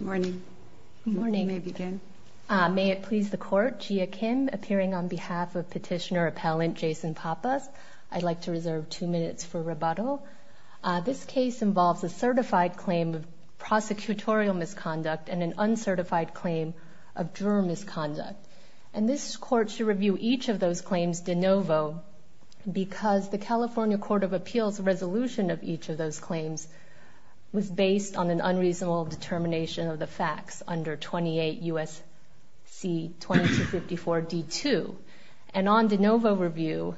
May it please the Court, Gia Kim, appearing on behalf of Petitioner-Appellant Jason Pappas. I'd like to reserve two minutes for rebuttal. This case involves a certified claim of prosecutorial misconduct and an uncertified claim of juror misconduct. And this Court should review each of those claims de novo because the California Court of Appeals resolution of each of those claims was based on an unreasonable determination of the facts under 28 U.S.C. 2254 D-2. And on de novo review,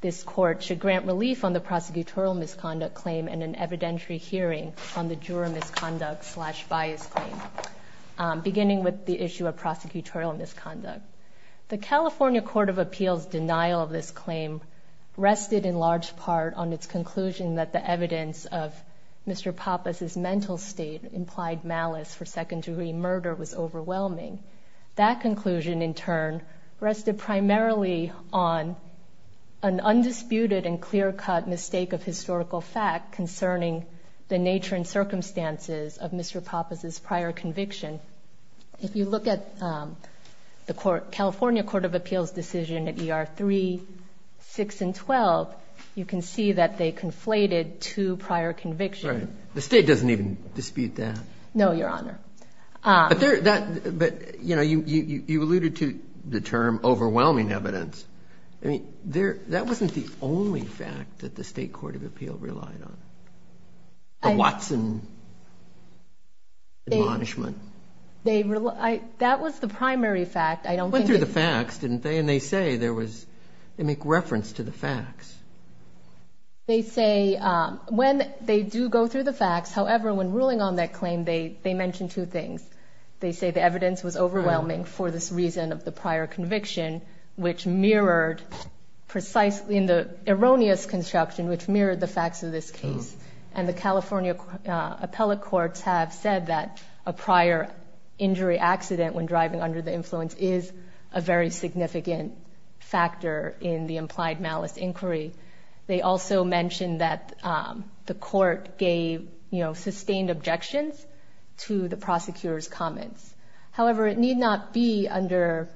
this Court should grant relief on the prosecutorial misconduct claim and an evidentiary hearing on the juror misconduct slash bias claim, beginning with the issue of prosecutorial misconduct. The California Court of Appeals' denial of this claim rested in large part on its conclusion that the evidence of Mr. Pappas' mental state implied malice for second-degree murder was overwhelming. That conclusion, in turn, rested primarily on an undisputed and clear-cut mistake of historical fact concerning the nature and circumstances of Mr. Pappas' prior conviction. If you look at the California Court of Appeals' decision at ER 3, 6, and 12, you can see that they conflated two prior convictions. Right. The State doesn't even dispute that. No, Your Honor. But you alluded to the term overwhelming evidence. I mean, that wasn't the only fact that the State Court of Appeals relied on. The Watson admonishment. That was the primary fact. They went through the facts, didn't they? And they say there was, they make reference to the facts. They say when they do go through the facts, however, when ruling on that claim, they mention two things. They say the evidence was overwhelming for this reason of the prior conviction, which mirrored precisely in the erroneous construction, which mirrored the facts of this case. And the California appellate courts have said that a prior injury accident when driving under the influence is a very significant factor in the implied malice inquiry. They also mentioned that the court gave, you know, sustained objections to the prosecutor's comments. However, it need not be under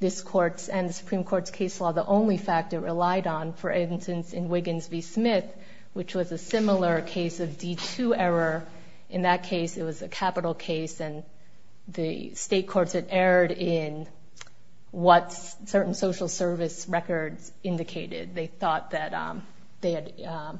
this court's and the Supreme Court's case law the only fact it relied on. For instance, in Wiggins v. Smith, which was a similar case of D2 error. In that case, it was a capital case, and the state courts had erred in what certain social service records indicated. They thought that they had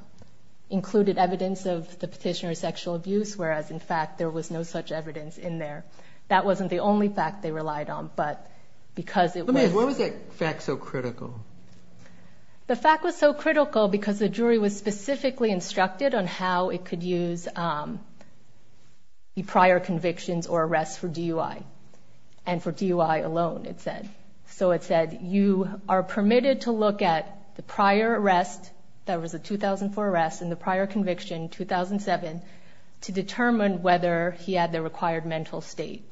included evidence of the petitioner's sexual abuse, whereas, in fact, there was no such evidence in there. That wasn't the only fact they relied on, but because it was. Why was that fact so critical? The fact was so critical because the jury was specifically instructed on how it could use the prior convictions or arrests for DUI, and for DUI alone, it said. So it said, you are permitted to look at the prior arrest, that was a 2004 arrest, and the prior conviction, 2007, to determine whether he had the required mental state.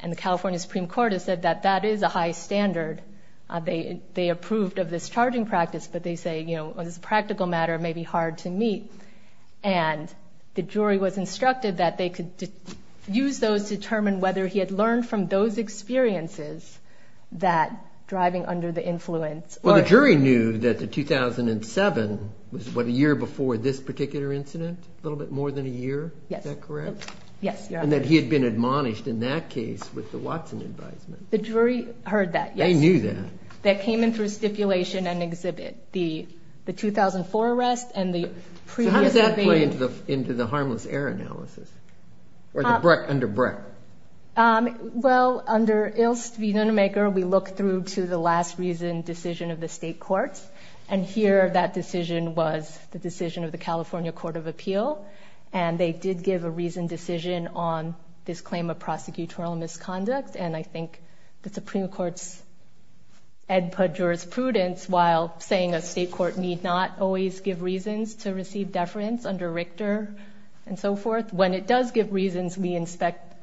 And the California Supreme Court has said that that is a high standard. They approved of this charging practice, but they say, you know, this is a practical matter. It may be hard to meet. And the jury was instructed that they could use those to determine whether he had learned from those experiences that driving under the influence. Well, the jury knew that the 2007 was, what, a year before this particular incident? A little bit more than a year? Yes. Is that correct? Yes, Your Honor. And that he had been admonished in that case with the Watson advisement. The jury heard that, yes. They knew that. That came in through stipulation and exhibit. The 2004 arrest and the previous conviction. So how does that play into the harmless error analysis? Or the Breck under Breck? Well, under Ilse Wiedemaker, we look through to the last reasoned decision of the state courts. And here, that decision was the decision of the California Court of Appeal. And they did give a reasoned decision on this claim of prosecutorial misconduct. And I think the Supreme Court's jurisprudence, while saying a state court need not always give reasons to receive deference under Richter and so forth, when it does give reasons, we inspect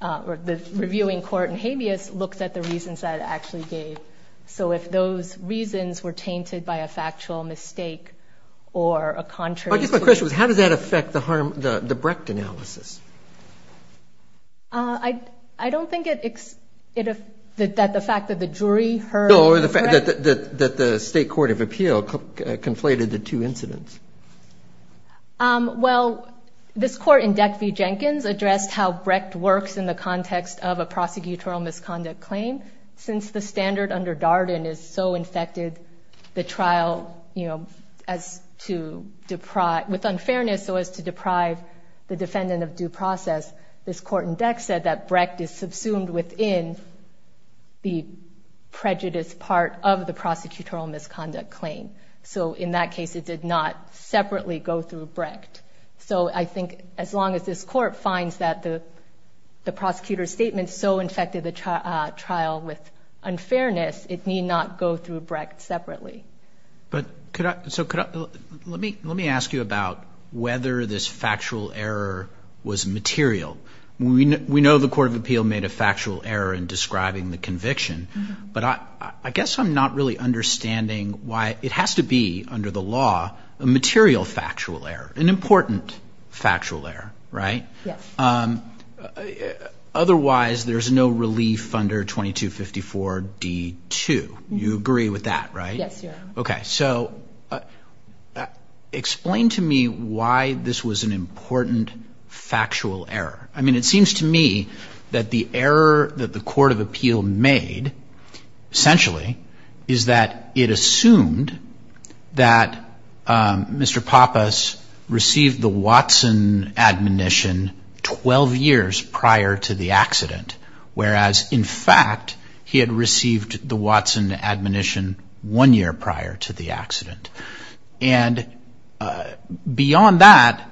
or the reviewing court in habeas looks at the reasons that it actually gave. So if those reasons were tainted by a factual mistake or a contrary to it. I guess my question was, how does that affect the Brecht analysis? I don't think that the fact that the jury heard. Or the fact that the state court of appeal conflated the two incidents. Well, this court in Deck v. Jenkins addressed how Brecht works in the context of a prosecutorial misconduct claim. And since the standard under Darden is so infected the trial with unfairness so as to deprive the defendant of due process. This court in Deck said that Brecht is subsumed within the prejudice part of the prosecutorial misconduct claim. So in that case, it did not separately go through Brecht. So I think as long as this court finds that the prosecutor's statement so infected the trial with unfairness, it need not go through Brecht separately. But could I, so could I, let me ask you about whether this factual error was material. We know the court of appeal made a factual error in describing the conviction. But I guess I'm not really understanding why it has to be under the law a material factual error, an important factual error, right? Yes. Otherwise, there's no relief under 2254 D2. You agree with that, right? Yes, Your Honor. Okay. So explain to me why this was an important factual error. I mean, it seems to me that the error that the court of appeal made essentially is that it assumed that Mr. Pappas received the Watson admonition 12 years prior to the accident. Whereas, in fact, he had received the Watson admonition one year prior to the accident. And beyond that,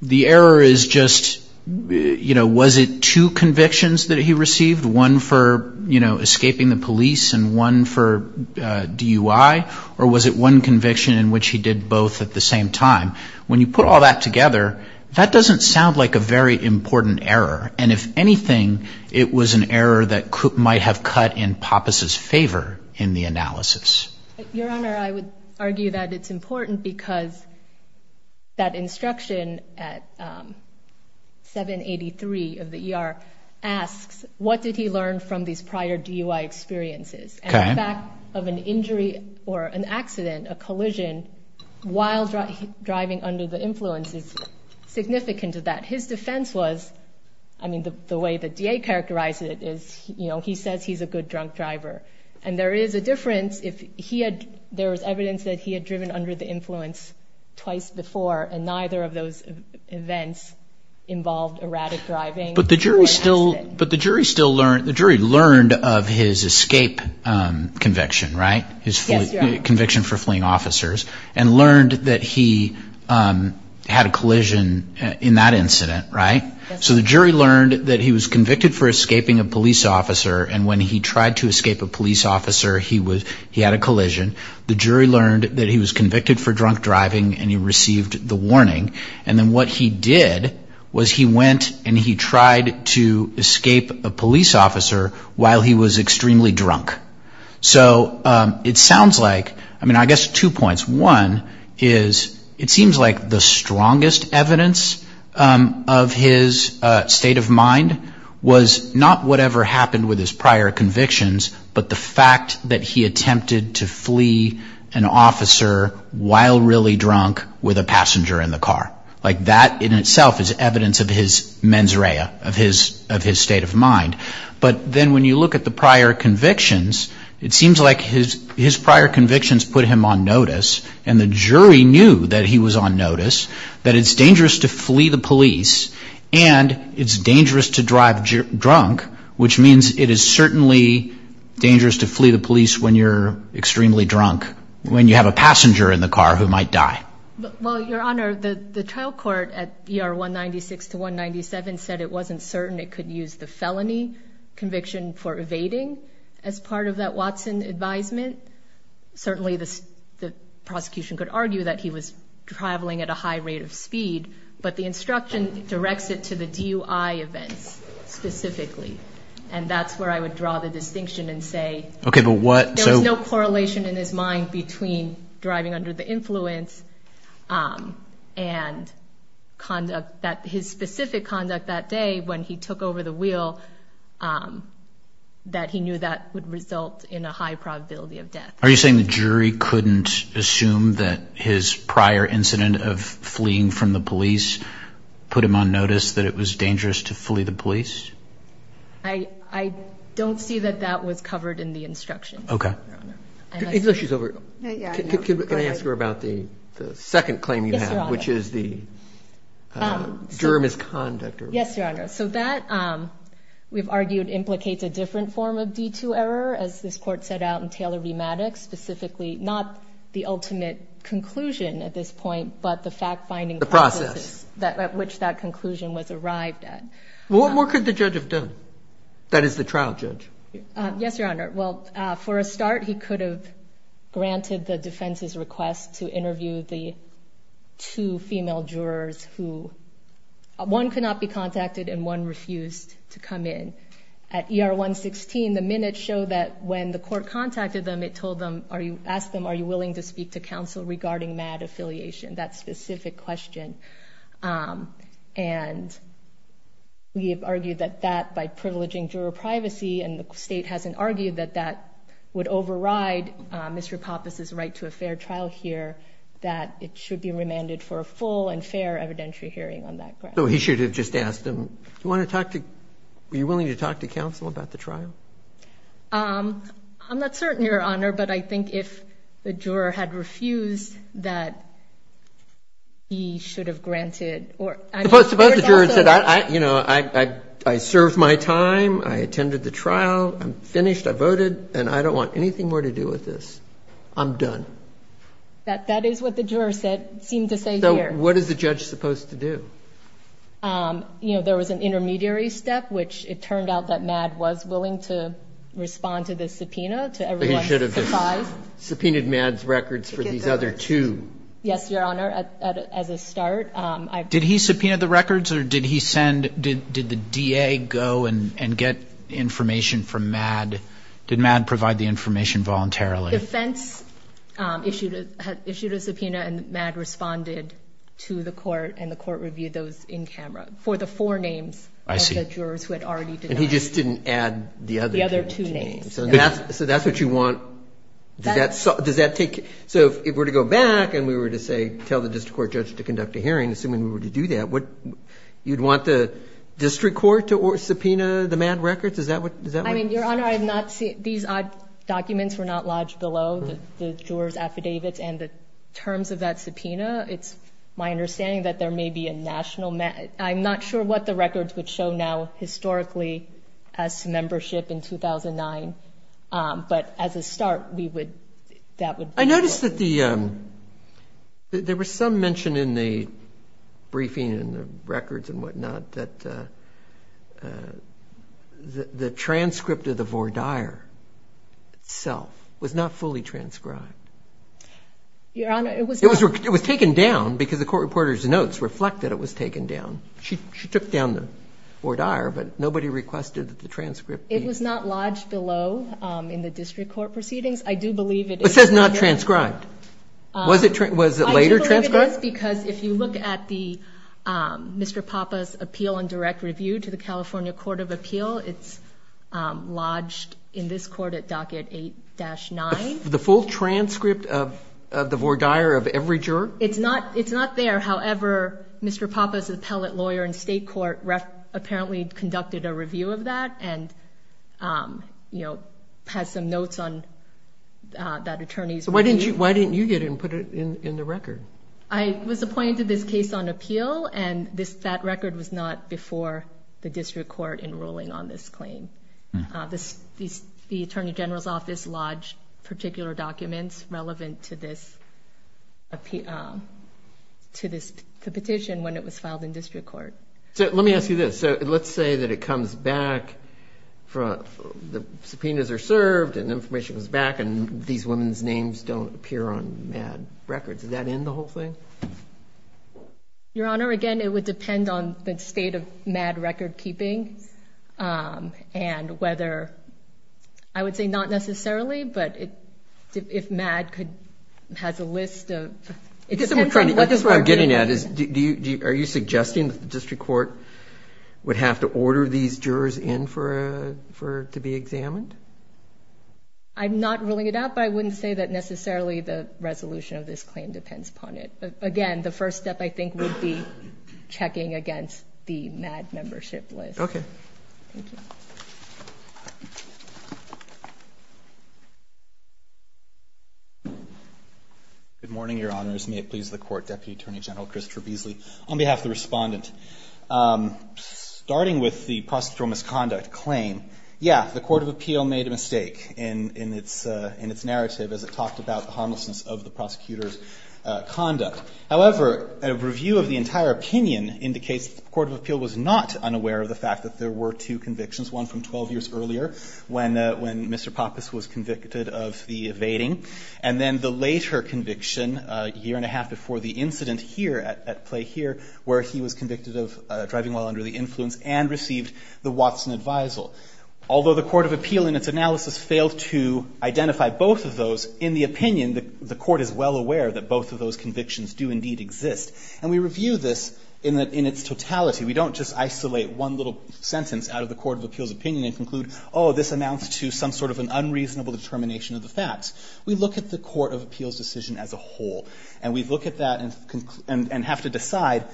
the error is just, you know, was it two convictions that he received? One for, you know, escaping the police and one for DUI? Or was it one conviction in which he did both at the same time? When you put all that together, that doesn't sound like a very important error. And if anything, it was an error that might have cut in Pappas' favor in the analysis. Your Honor, I would argue that it's important because that instruction at 783 of the ER asks, what did he learn from these prior DUI experiences? And the fact of an injury or an accident, a collision, while driving under the influence is significant to that. His defense was, I mean, the way the DA characterized it is, you know, he says he's a good drunk driver. And there is a difference if he had, there was evidence that he had driven under the influence twice before, and neither of those events involved erratic driving. But the jury still, but the jury still learned, the jury learned of his escape conviction, right? Yes, Your Honor. His conviction for fleeing officers, and learned that he had a collision in that incident, right? Yes. The jury learned that he was convicted for escaping a police officer, and when he tried to escape a police officer, he had a collision. The jury learned that he was convicted for drunk driving, and he received the warning. And then what he did was he went and he tried to escape a police officer while he was extremely drunk. So it sounds like, I mean, I guess two points. One is it seems like the strongest evidence of his state of mind was not whatever happened with his prior convictions, but the fact that he attempted to flee an officer while really drunk with a passenger in the car. Like that in itself is evidence of his mens rea, of his state of mind. But then when you look at the prior convictions, it seems like his prior convictions put him on notice, and the jury knew that he was on notice, that it's dangerous to flee the police, and it's dangerous to drive drunk, which means it is certainly dangerous to flee the police when you're extremely drunk, when you have a passenger in the car who might die. Well, Your Honor, the trial court at ER 196 to 197 said it wasn't certain it could use the felony conviction for evading as part of that Watson advisement. Certainly the prosecution could argue that he was traveling at a high rate of speed, but the instruction directs it to the DUI events specifically, and that's where I would draw the distinction and say there was no correlation in his mind between driving under the influence and his specific conduct that day when he took over the wheel, that he knew that would result in a high probability of death. Are you saying the jury couldn't assume that his prior incident of fleeing from the police put him on notice that it was dangerous to flee the police? I don't see that that was covered in the instructions, Your Honor. Okay. Unless she's over. Yeah, I know. Can I ask her about the second claim you have, which is the germist conduct? Yes, Your Honor. So that, we've argued, implicates a different form of D2 error, as this Court set out in Taylor v. Maddox, specifically not the ultimate conclusion at this point, but the fact-finding process at which that conclusion was arrived at. What more could the judge have done? That is, the trial judge. Yes, Your Honor. Well, for a start, he could have granted the defense's request to interview the two female jurors who, one could not be contacted and one refused to come in. At ER 116, the minutes show that when the court contacted them, it asked them, are you willing to speak to counsel regarding MADD affiliation, that specific question? And we have argued that that, by privileging juror privacy, and the State hasn't argued that that would override Mr. Pappas' right to a fair trial here, that it should be remanded for a full and fair evidentiary hearing on that ground. So he should have just asked them, do you want to talk to, are you willing to talk to counsel about the trial? I'm not certain, Your Honor, but I think if the juror had refused, that he should have granted. Suppose the juror said, you know, I served my time, I attended the trial, I'm finished, I voted, and I don't want anything more to do with this, I'm done. That is what the juror seemed to say here. So what is the judge supposed to do? You know, there was an intermediary step, which it turned out that MADD was willing to respond to the subpoena to everyone's surprise. He should have just subpoenaed MADD's records for these other two. Yes, Your Honor, as a start. Did he subpoena the records or did he send, did the DA go and get information from MADD? Did MADD provide the information voluntarily? The defense issued a subpoena and MADD responded to the court, and the court reviewed those in camera for the four names of the jurors who had already denied. And he just didn't add the other two names. The other two names. So that's what you want? Does that take, so if we were to go back and we were to say, tell the district court judge to conduct a hearing, assuming we were to do that, you'd want the district court to subpoena the MADD records? I mean, Your Honor, I'm not seeing, these documents were not lodged below the jurors' affidavits and the terms of that subpoena. It's my understanding that there may be a national, I'm not sure what the records would show now historically as to membership in 2009. But as a start, we would, that would. I noticed that there was some mention in the briefing and the records and whatnot that the transcript of the voir dire itself was not fully transcribed. Your Honor, it was not. It was taken down because the court reporter's notes reflect that it was taken down. She took down the voir dire, but nobody requested that the transcript be. It was not lodged below in the district court proceedings. I do believe it is. It says not transcribed. Was it later transcribed? I do believe it is because if you look at Mr. Papa's appeal and direct review to the California Court of Appeal, it's lodged in this court at docket 8-9. The full transcript of the voir dire of every juror? It's not there. However, Mr. Papa's appellate lawyer in state court apparently conducted a review of that and, you know, has some notes on that attorney's review. Why didn't you get it and put it in the record? I was appointed to this case on appeal, and that record was not before the district court in ruling on this claim. The attorney general's office lodged particular documents relevant to this petition when it was filed in district court. Let me ask you this. Let's say that it comes back, the subpoenas are served and information comes back and these women's names don't appear on MADD records. Does that end the whole thing? Your Honor, again, it would depend on the state of MADD record keeping and whether I would say not necessarily, but if MADD has a list of I guess what I'm getting at is are you suggesting that the district court would have to order these jurors in to be examined? I'm not ruling it out, but I wouldn't say that necessarily the resolution of this claim depends upon it. Again, the first step, I think, would be checking against the MADD membership list. Okay. Thank you. Good morning, Your Honors. May it please the Court, Deputy Attorney General Christopher Beasley. On behalf of the respondent, starting with the prosecutorial misconduct claim, yeah, the Court of Appeal made a mistake in its narrative as it talked about the harmlessness of the prosecutor's conduct. However, a review of the entire opinion indicates the Court of Appeal was not unaware of the fact that there were two convictions, one from 12 years earlier when Mr. Pappas was convicted of the evading and then the later conviction a year and a half before the incident here at play here where he was convicted of driving while under the influence and received the Watson Advisal. Although the Court of Appeal in its analysis failed to identify both of those, in the opinion the Court is well aware that both of those convictions do indeed exist, and we review this in its totality. We don't just isolate one little sentence out of the Court of Appeal's opinion and conclude, oh, this amounts to some sort of an unreasonable determination of the facts. We look at the Court of Appeal's decision as a whole, and we look at that and have to decide,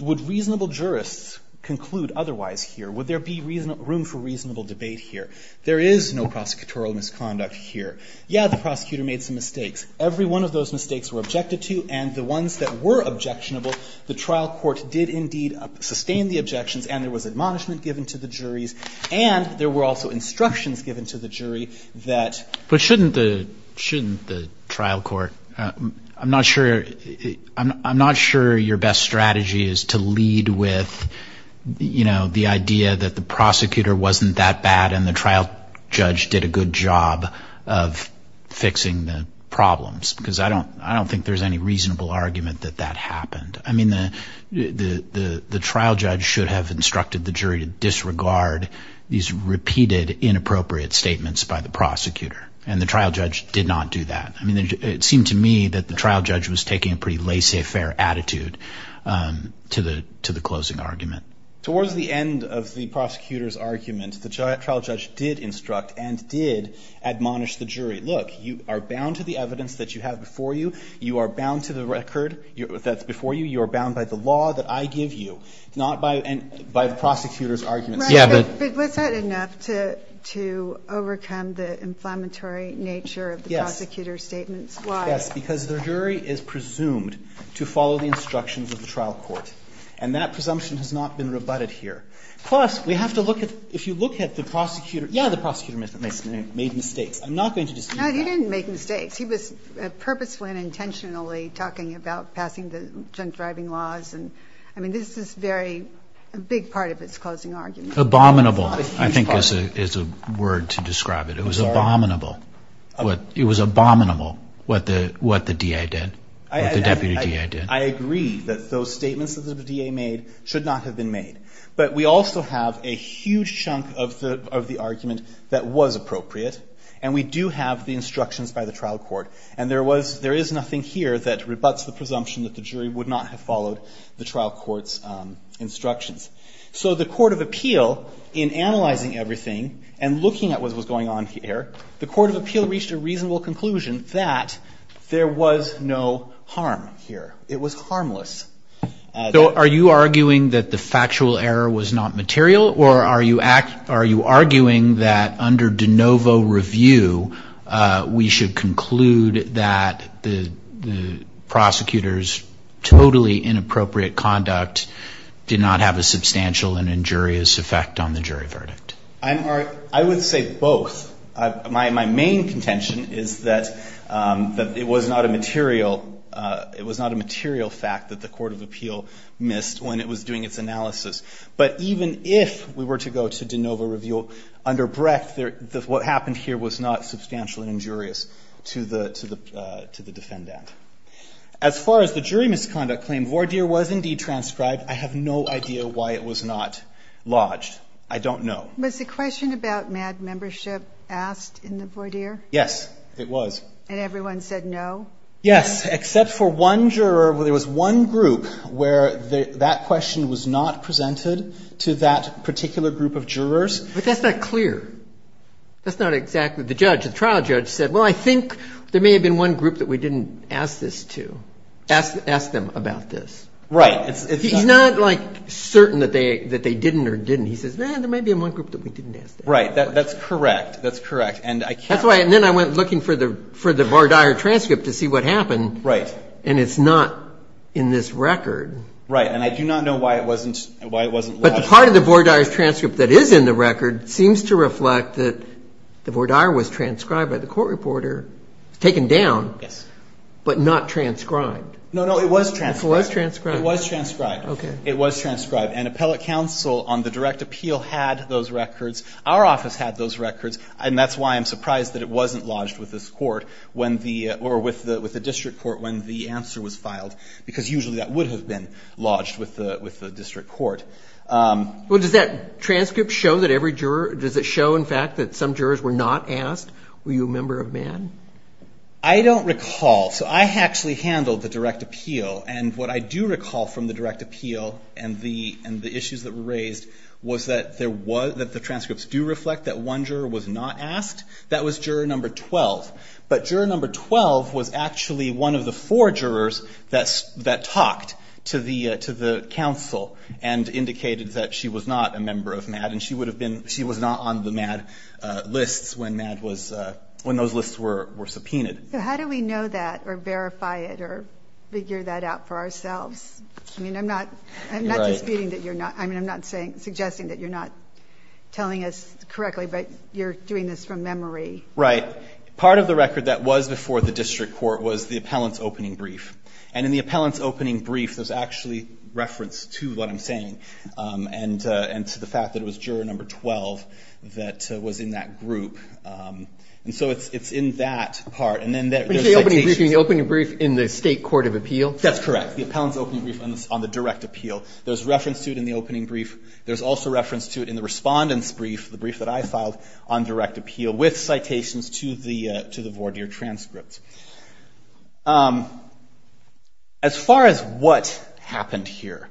would reasonable jurists conclude otherwise here? Would there be room for reasonable debate here? There is no prosecutorial misconduct here. Yeah, the prosecutor made some mistakes. Every one of those mistakes were objected to, and the ones that were objectionable, the trial court did indeed sustain the objections and there was admonishment given to the juries and there were also instructions given to the jury that... But shouldn't the trial court, I'm not sure your best strategy is to lead with, you know, the idea that the prosecutor wasn't that bad and the trial judge did a good job of fixing the problems because I don't think there's any reasonable argument that that happened. I mean, the trial judge should have instructed the jury to disregard these repeated inappropriate statements by the prosecutor, and the trial judge did not do that. I mean, it seemed to me that the trial judge was taking a pretty laissez-faire attitude to the closing argument. Towards the end of the prosecutor's argument, the trial judge did instruct and did admonish the jury, look, you are bound to the evidence that you have before you, you are bound to the record that's before you, you are bound by the law that I give you, not by the prosecutor's arguments. But was that enough to overcome the inflammatory nature of the prosecutor's statements? Yes, because the jury is presumed to follow the instructions of the trial court, and that presumption has not been rebutted here. Plus, we have to look at, if you look at the prosecutor, yeah, the prosecutor made mistakes. I'm not going to dispute that. No, he didn't make mistakes. He was purposefully and intentionally talking about passing the drunk driving laws, and I mean, this is a very big part of his closing argument. Abominable, I think, is a word to describe it. It was abominable. It was abominable what the DA did, what the deputy DA did. I agree that those statements that the DA made should not have been made. But we also have a huge chunk of the argument that was appropriate, and we do have the instructions by the trial court. And there is nothing here that rebuts the presumption that the jury would not have followed the trial court's instructions. So the court of appeal, in analyzing everything and looking at what was going on here, the court of appeal reached a reasonable conclusion that there was no harm here. It was harmless. So are you arguing that the factual error was not material, or are you arguing that under de novo review, we should conclude that the prosecutor's totally inappropriate conduct did not have a substantial and injurious effect on the jury verdict? I would say both. My main contention is that it was not a material fact that the court of appeal missed when it was doing its analysis. But even if we were to go to de novo review, under breadth, what happened here was not substantial and injurious to the defendant. As far as the jury misconduct claim, voir dire was indeed transcribed. I have no idea why it was not lodged. I don't know. Was the question about MADD membership asked in the voir dire? Yes, it was. And everyone said no? Yes, except for one juror. There was one group where that question was not presented to that particular group of jurors. But that's not clear. That's not exactly the judge. The trial judge said, well, I think there may have been one group that we didn't ask this to, ask them about this. Right. He's not, like, certain that they didn't or didn't. He says, man, there may be one group that we didn't ask that. Right. That's correct. That's correct. And I can't. And then I went looking for the voir dire transcript to see what happened. Right. And it's not in this record. Right. And I do not know why it wasn't lodged. But part of the voir dire's transcript that is in the record seems to reflect that the voir dire was transcribed by the court reporter, taken down. Yes. But not transcribed. No, no, it was transcribed. It was transcribed. It was transcribed. Okay. It was transcribed. And appellate counsel on the direct appeal had those records. Our office had those records. And that's why I'm surprised that it wasn't lodged with this court or with the district court when the answer was filed. Because usually that would have been lodged with the district court. Well, does that transcript show that every juror, does it show, in fact, that some jurors were not asked? Were you a member of MADD? I don't recall. So I actually handled the direct appeal. And what I do recall from the direct appeal and the issues that were raised was that the transcripts do reflect that one juror was not asked. That was juror number 12. But juror number 12 was actually one of the four jurors that talked to the counsel and indicated that she was not a member of MADD and she was not on the MADD lists when those lists were subpoenaed. So how do we know that or verify it or figure that out for ourselves? I mean, I'm not disputing that you're not. I mean, I'm not suggesting that you're not telling us correctly, but you're doing this from memory. Right. Part of the record that was before the district court was the appellant's opening brief. And in the appellant's opening brief, there's actually reference to what I'm saying and to the fact that it was juror number 12 that was in that group. And so it's in that part. When you say opening brief, you mean the opening brief in the state court of appeal? That's correct, the appellant's opening brief on the direct appeal. There's reference to it in the opening brief. There's also reference to it in the respondent's brief, the brief that I filed on direct appeal with citations to the voir dire transcript. As far as what happened here,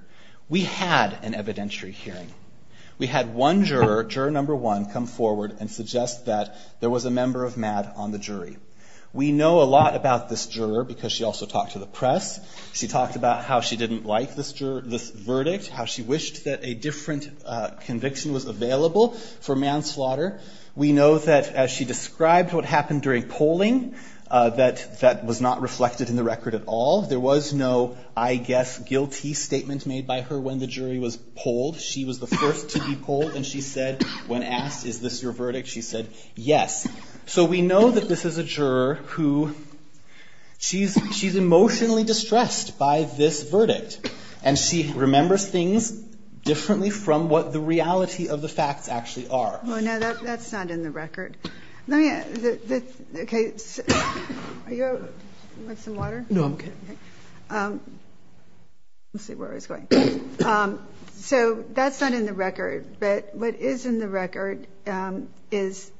we had an evidentiary hearing. We had one juror, juror number one, come forward and suggest that there was a member of MADD on the jury. We know a lot about this juror because she also talked to the press. She talked about how she didn't like this verdict, how she wished that a different conviction was available for manslaughter. We know that as she described what happened during polling, that that was not reflected in the record at all. There was no, I guess, guilty statement made by her when the jury was polled. She was the first to be polled, and she said when asked, is this your verdict, she said, yes. So we know that this is a juror who she's emotionally distressed by this verdict. And she remembers things differently from what the reality of the facts actually are. Oh, no, that's not in the record. Let me, okay, are you, want some water? No, I'm okay. Okay. Let's see where I was going. So that's not in the record. But what is in the record is,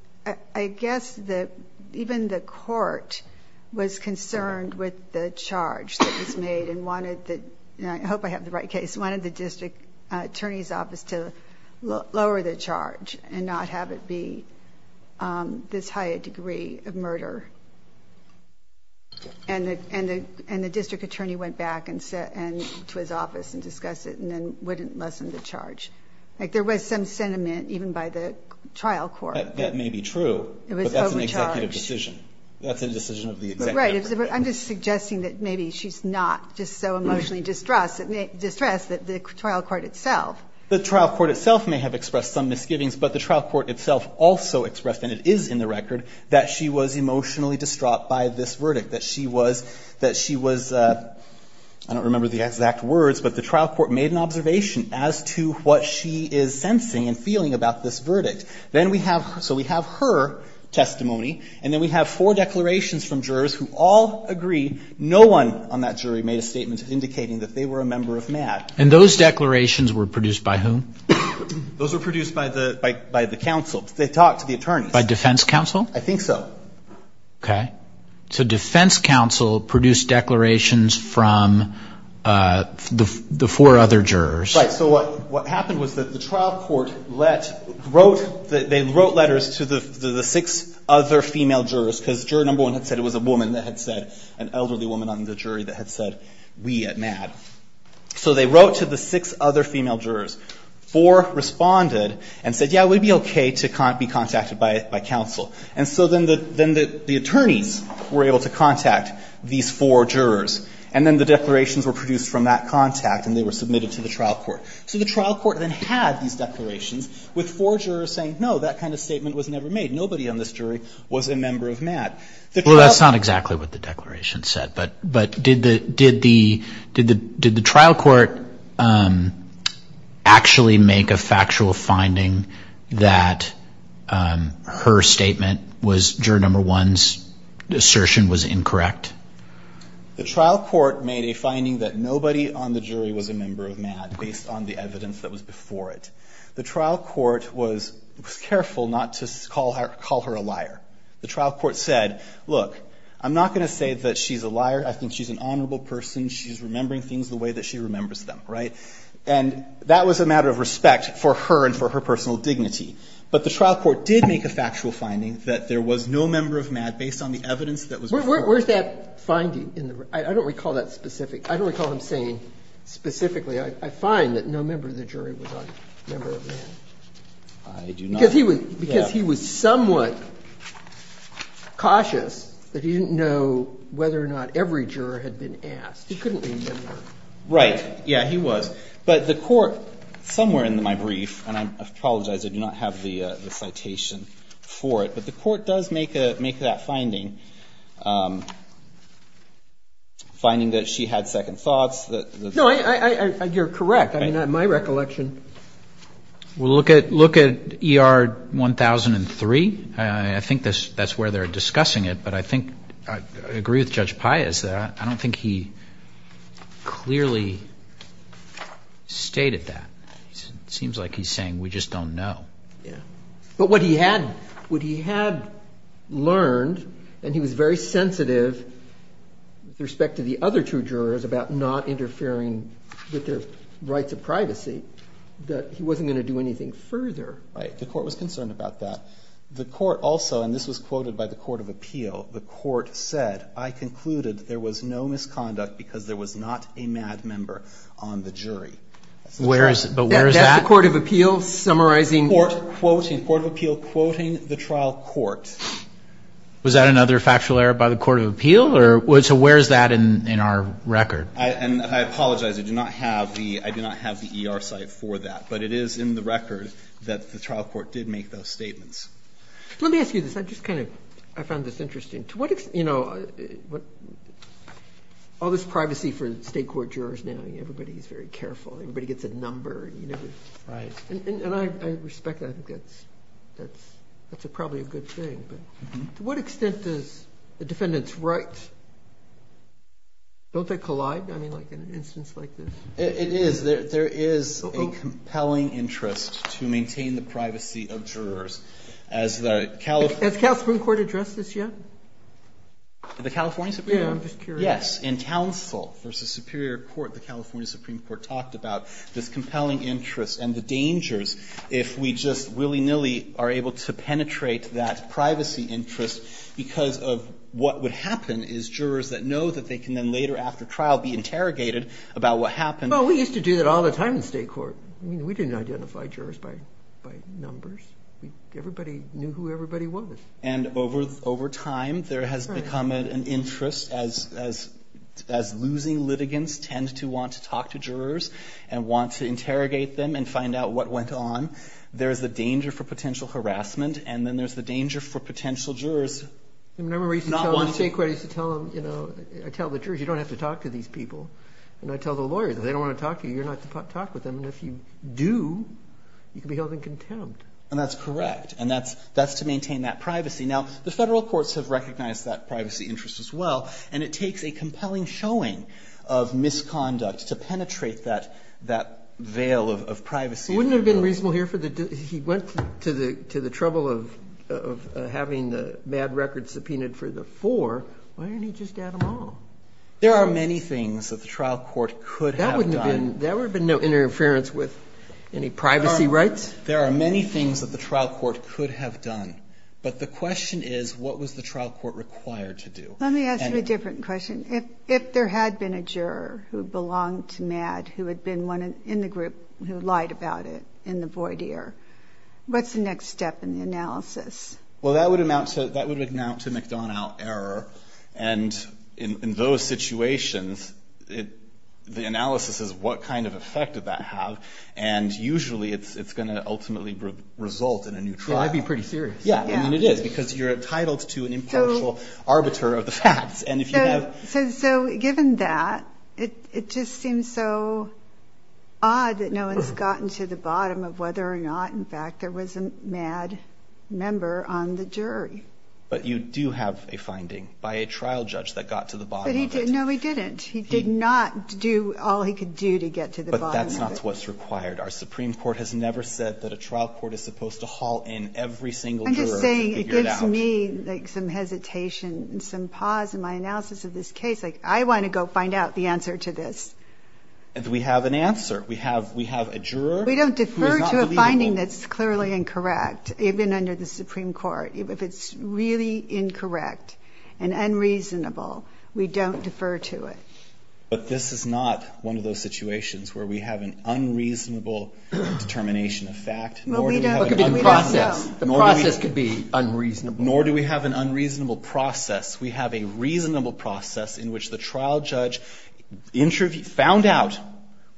I guess, that even the court was concerned with the charge that was made and wanted the, I hope I have the right case, wanted the district attorney's office to lower the charge and not have it be this high a degree of murder. And the district attorney went back to his office and discussed it and then wouldn't lessen the charge. Like there was some sentiment, even by the trial court. That may be true, but that's an executive decision. That's a decision of the executive. Right. I'm just suggesting that maybe she's not just so emotionally distressed that the trial court itself. The trial court itself may have expressed some misgivings, but the trial court itself also expressed, and it is in the record, that she was emotionally distraught by this verdict. That she was, I don't remember the exact words, but the trial court made an observation as to what she is sensing and feeling about this verdict. So we have her testimony, and then we have four declarations from jurors who all agree no one on that jury made a statement indicating that they were a member of MADD. And those declarations were produced by whom? Those were produced by the counsel. They talked to the attorneys. By defense counsel? I think so. Okay. So defense counsel produced declarations from the four other jurors. Right. So what happened was that the trial court let, wrote, they wrote letters to the six other female jurors because juror number one had said it was a woman that had said, an elderly woman on the jury that had said, we at MADD. So they wrote to the six other female jurors. Four responded and said, yeah, it would be okay to be contacted by counsel. And so then the attorneys were able to contact these four jurors. And then the declarations were produced from that contact, and they were submitted to the trial court. So the trial court then had these declarations with four jurors saying, no, that kind of statement was never made. Nobody on this jury was a member of MADD. Well, that's not exactly what the declaration said. But did the trial court actually make a factual finding that her statement was, juror number one's assertion was incorrect? The trial court made a finding that nobody on the jury was a member of MADD based on the evidence that was before it. The trial court was careful not to call her a liar. The trial court said, look, I'm not going to say that she's a liar. I think she's an honorable person. She's remembering things the way that she remembers them, right? And that was a matter of respect for her and for her personal dignity. But the trial court did make a factual finding that there was no member of MADD based on the evidence that was before it. Where's that finding? I don't recall that specific. I don't recall him saying specifically. I find that no member of the jury was a member of MADD. I do not. Because he was somewhat cautious that he didn't know whether or not every juror had been asked. He couldn't remember. Right. Yeah, he was. But the court somewhere in my brief, and I apologize. I do not have the citation for it. But the court does make that finding, finding that she had second thoughts. No, you're correct. I mean, in my recollection. Well, look at ER 1003. I think that's where they're discussing it. But I think I agree with Judge Paez. I don't think he clearly stated that. It seems like he's saying we just don't know. Yeah. But what he had learned, and he was very sensitive with respect to the other two jurors about not interfering with their rights of privacy, that he wasn't going to do anything further. Right. The court was concerned about that. The court also, and this was quoted by the Court of Appeal, the court said, I concluded there was no misconduct because there was not a MADD member on the jury. Where is it? But where is that? That's the Court of Appeal summarizing. Court of Appeal quoting the trial court. Was that another factual error by the Court of Appeal? So where is that in our record? And I apologize. I do not have the ER site for that. But it is in the record that the trial court did make those statements. Let me ask you this. I just kind of, I found this interesting. To what extent, you know, all this privacy for state court jurors now. Everybody is very careful. Everybody gets a number. Right. And I respect that. I think that's probably a good thing. To what extent does the defendant's rights, don't they collide? I mean, like in an instance like this. It is. There is a compelling interest to maintain the privacy of jurors. Has the California Supreme Court addressed this yet? The California Supreme Court? Yes. In counsel versus superior court, the California Supreme Court talked about this interest because of what would happen is jurors that know that they can then later after trial be interrogated about what happened. Well, we used to do that all the time in state court. I mean, we didn't identify jurors by numbers. Everybody knew who everybody was. And over time, there has become an interest as losing litigants tend to want to talk to jurors and want to interrogate them and find out what went on. There is a danger for potential harassment. And then there's the danger for potential jurors not wanting to. I remember you used to tell them in state court, you used to tell them, you know, I tell the jurors, you don't have to talk to these people. And I tell the lawyers, if they don't want to talk to you, you're not to talk with them. And if you do, you can be held in contempt. And that's correct. And that's to maintain that privacy. Now, the federal courts have recognized that privacy interest as well. And it takes a compelling showing of misconduct to penetrate that veil of privacy. Wouldn't it have been reasonable here, he went to the trouble of having the MADD record subpoenaed for the four. Why didn't he just add them all? There are many things that the trial court could have done. That would have been no interference with any privacy rights? There are many things that the trial court could have done. But the question is, what was the trial court required to do? Let me ask you a different question. If there had been a juror who belonged to MADD who had been in the group who lied about it in the void year, what's the next step in the analysis? Well, that would amount to McDonough error. And in those situations, the analysis is what kind of effect did that have. And usually it's going to ultimately result in a new trial. Well, I'd be pretty serious. Yeah, I mean, it is because you're entitled to an impartial arbiter of the facts. So given that, it just seems so odd that no one's gotten to the bottom of whether or not, in fact, there was a MADD member on the jury. But you do have a finding by a trial judge that got to the bottom of it. No, he didn't. He did not do all he could do to get to the bottom of it. But that's not what's required. Our Supreme Court has never said that a trial court is supposed to haul in every single juror to figure it out. It gives me, like, some hesitation and some pause in my analysis of this case. Like, I want to go find out the answer to this. And we have an answer. We have a juror who is not believable. We don't defer to a finding that's clearly incorrect, even under the Supreme Court. If it's really incorrect and unreasonable, we don't defer to it. But this is not one of those situations where we have an unreasonable determination of fact. Nor do we have an unreasonable process. The process could be unreasonable. Nor do we have an unreasonable process. We have a reasonable process in which the trial judge found out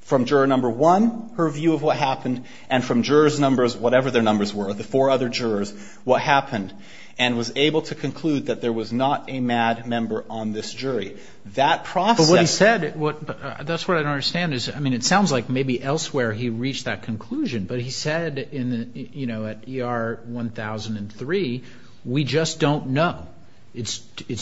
from juror number one her view of what happened, and from jurors' numbers, whatever their numbers were, the four other jurors, what happened, and was able to conclude that there was not a MADD member on this jury. That process. But what he said, that's what I don't understand is, I mean, it sounds like maybe elsewhere he reached that conclusion. But he said, you know, at ER 1003, we just don't know. It's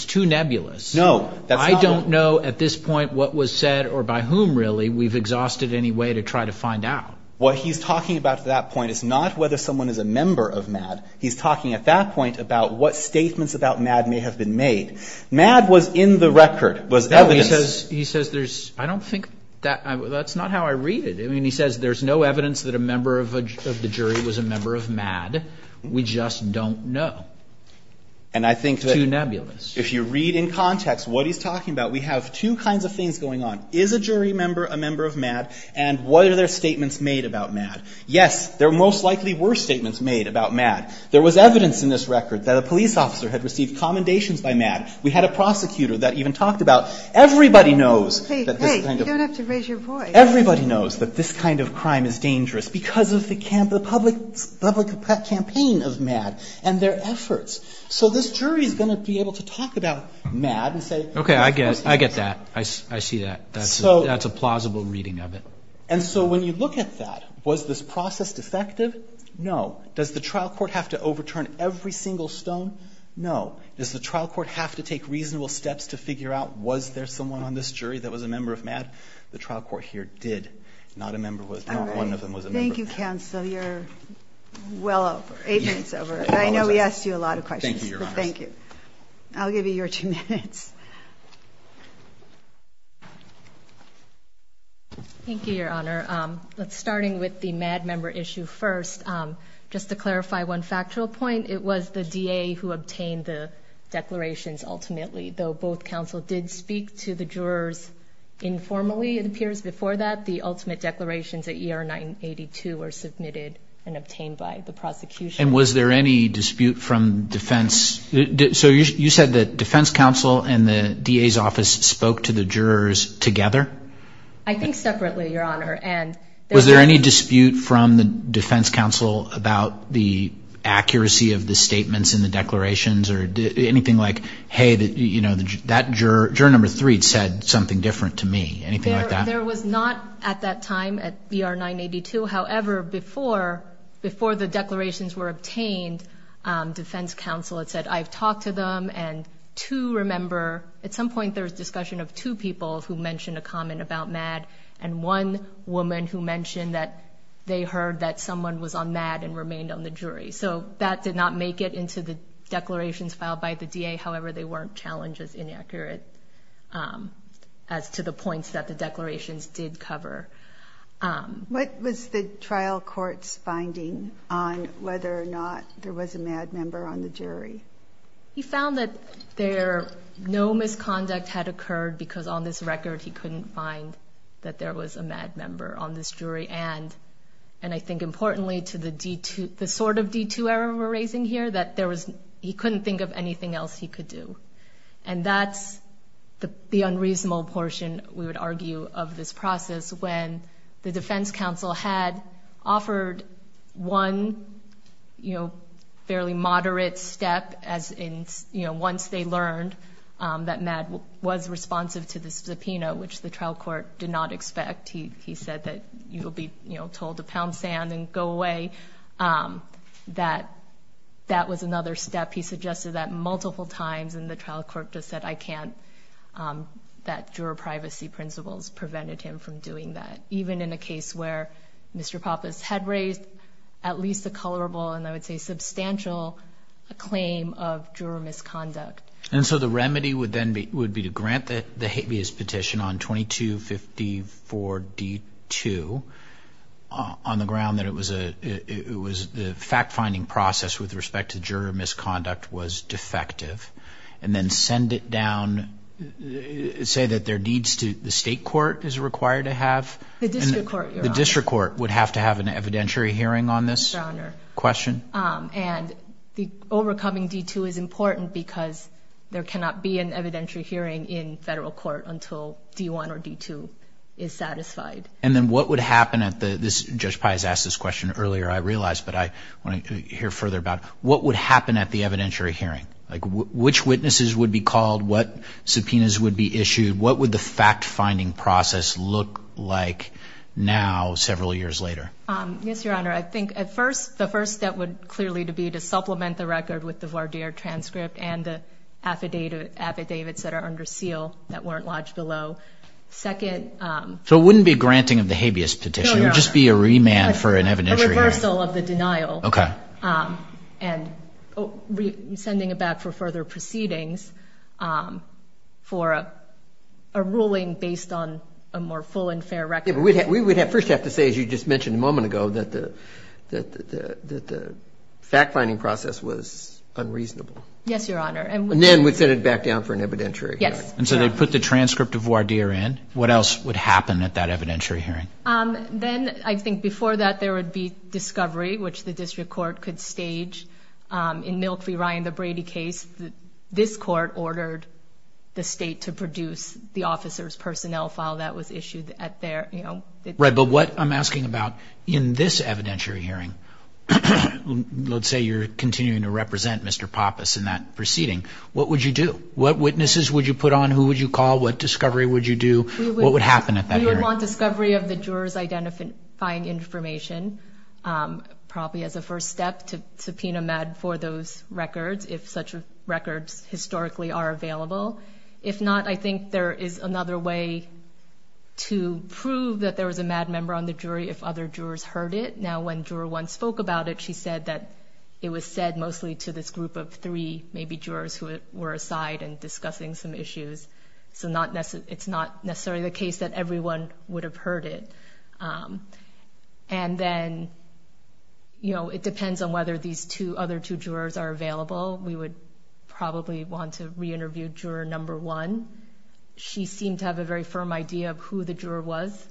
too nebulous. I don't know at this point what was said or by whom, really. We've exhausted any way to try to find out. What he's talking about at that point is not whether someone is a member of MADD. He's talking at that point about what statements about MADD may have been made. MADD was in the record. It was evidence. He says there's, I don't think, that's not how I read it. I mean, he says there's no evidence that a member of the jury was a member of MADD. We just don't know. It's too nebulous. And I think that if you read in context what he's talking about, we have two kinds of things going on. Is a jury member a member of MADD? And what are their statements made about MADD? Yes, there most likely were statements made about MADD. There was evidence in this record that a police officer had received commendations by MADD. We had a prosecutor that even talked about. Everybody knows that this kind of. Hey, hey, you don't have to raise your voice. Everybody knows that this kind of crime is dangerous because of the public campaign of MADD and their efforts. So this jury is going to be able to talk about MADD and say. Okay, I get that. I see that. That's a plausible reading of it. And so when you look at that, was this process defective? No. Does the trial court have to overturn every single stone? No. Does the trial court have to take reasonable steps to figure out was there someone on this jury that was a member of MADD? The trial court here did. Not a member was. Not one of them was a member of MADD. All right. Thank you, counsel. You're well over. Eight minutes over. I know we asked you a lot of questions. Thank you, Your Honor. Thank you. I'll give you your two minutes. Thank you, Your Honor. Starting with the MADD member issue first. Just to clarify one factual point, it was the DA who obtained the declarations ultimately, though both counsel did speak to the jurors informally, it appears, before that. The ultimate declarations at ER 982 were submitted and obtained by the prosecution. And was there any dispute from defense? So you said that defense counsel and the DA's office spoke to the jurors together? I think separately, Your Honor. Was there any dispute from the defense counsel about the accuracy of the statements in the declarations or anything like, hey, that juror number three said something different to me? Anything like that? There was not at that time at ER 982. However, before the declarations were obtained, defense counsel had said, I've talked to them and to remember at some point there was discussion of two people who mentioned a comment about MADD and one woman who mentioned that they heard that someone was on MADD and remained on the jury. So that did not make it into the declarations filed by the DA. However, they weren't challenged as inaccurate as to the points that the declarations did cover. What was the trial court's finding on whether or not there was a MADD member on the jury? He found that no misconduct had occurred because on this record he couldn't find that there was a MADD member on this jury. And I think importantly to the sort of detour we're raising here, that he couldn't think of anything else he could do. And that's the unreasonable portion, we would argue, of this process when the once they learned that MADD was responsive to the subpoena, which the trial court did not expect. He said that you will be told to pound sand and go away. That was another step. He suggested that multiple times and the trial court just said, I can't, that juror privacy principles prevented him from doing that. Even in a case where Mr. Pappas had raised at least a colorable and I would say substantial claim of juror misconduct. And so the remedy would then be to grant the habeas petition on 2254D2 on the ground that it was the fact-finding process with respect to juror misconduct was defective, and then send it down, say that there are needs to the state court is required to have? The district court, Your Honor. The district court would have to have an evidentiary hearing on this? Yes, Your Honor. Question. And the overcoming D2 is important because there cannot be an evidentiary hearing in federal court until D1 or D2 is satisfied. And then what would happen at the, Judge Pai has asked this question earlier I realized, but I want to hear further about what would happen at the evidentiary hearing? Like which witnesses would be called? What subpoenas would be issued? What would the fact-finding process look like now several years later? Yes, Your Honor. I think at first, the first step would clearly to be to supplement the record with the voir dire transcript and the affidavits that are under seal that weren't lodged below. Second. So it wouldn't be granting of the habeas petition, it would just be a remand for an evidentiary hearing? A reversal of the denial. Okay. And sending it back for further proceedings for a ruling based on a more full and fair record. We would first have to say, as you just mentioned a moment ago, that the fact-finding process was unreasonable. Yes, Your Honor. And then we'd send it back down for an evidentiary hearing. Yes. And so they put the transcript of voir dire in. What else would happen at that evidentiary hearing? Then I think before that there would be discovery, which the district court could stage. In Milk v. Ryan v. Brady case, this court ordered the state to produce the officer's personnel file that was But what I'm asking about in this evidentiary hearing, let's say you're continuing to represent Mr. Pappas in that proceeding, what would you do? What witnesses would you put on? Who would you call? What discovery would you do? What would happen at that hearing? We would want discovery of the juror's identifying information, probably as a first step, to subpoena MADD for those records if such records historically are available. If not, I think there is another way to prove that there was a MADD member on the jury if other jurors heard it. Now, when Juror 1 spoke about it, she said that it was said mostly to this group of three, maybe, jurors who were aside and discussing some issues. So it's not necessarily the case that everyone would have heard it. And then, you know, it depends on whether these other two jurors are available. We would probably want to re-interview Juror 1. She seemed to have a very firm idea of who the juror was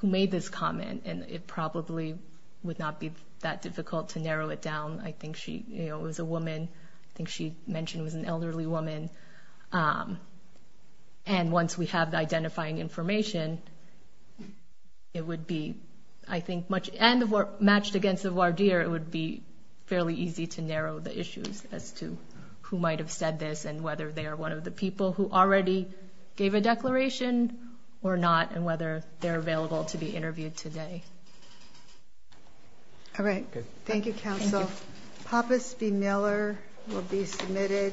who made this comment, and it probably would not be that difficult to narrow it down. I think she, you know, it was a woman. I think she mentioned it was an elderly woman. And once we have the identifying information, it would be, I think, much, and matched against the voir dire, it would be fairly easy to narrow the issues as to who might have said this and whether they are one of the people who already gave a declaration or not and whether they're available to be interviewed today. All right. Thank you, Counsel. Thank you. Pappas v. Miller will be submitted.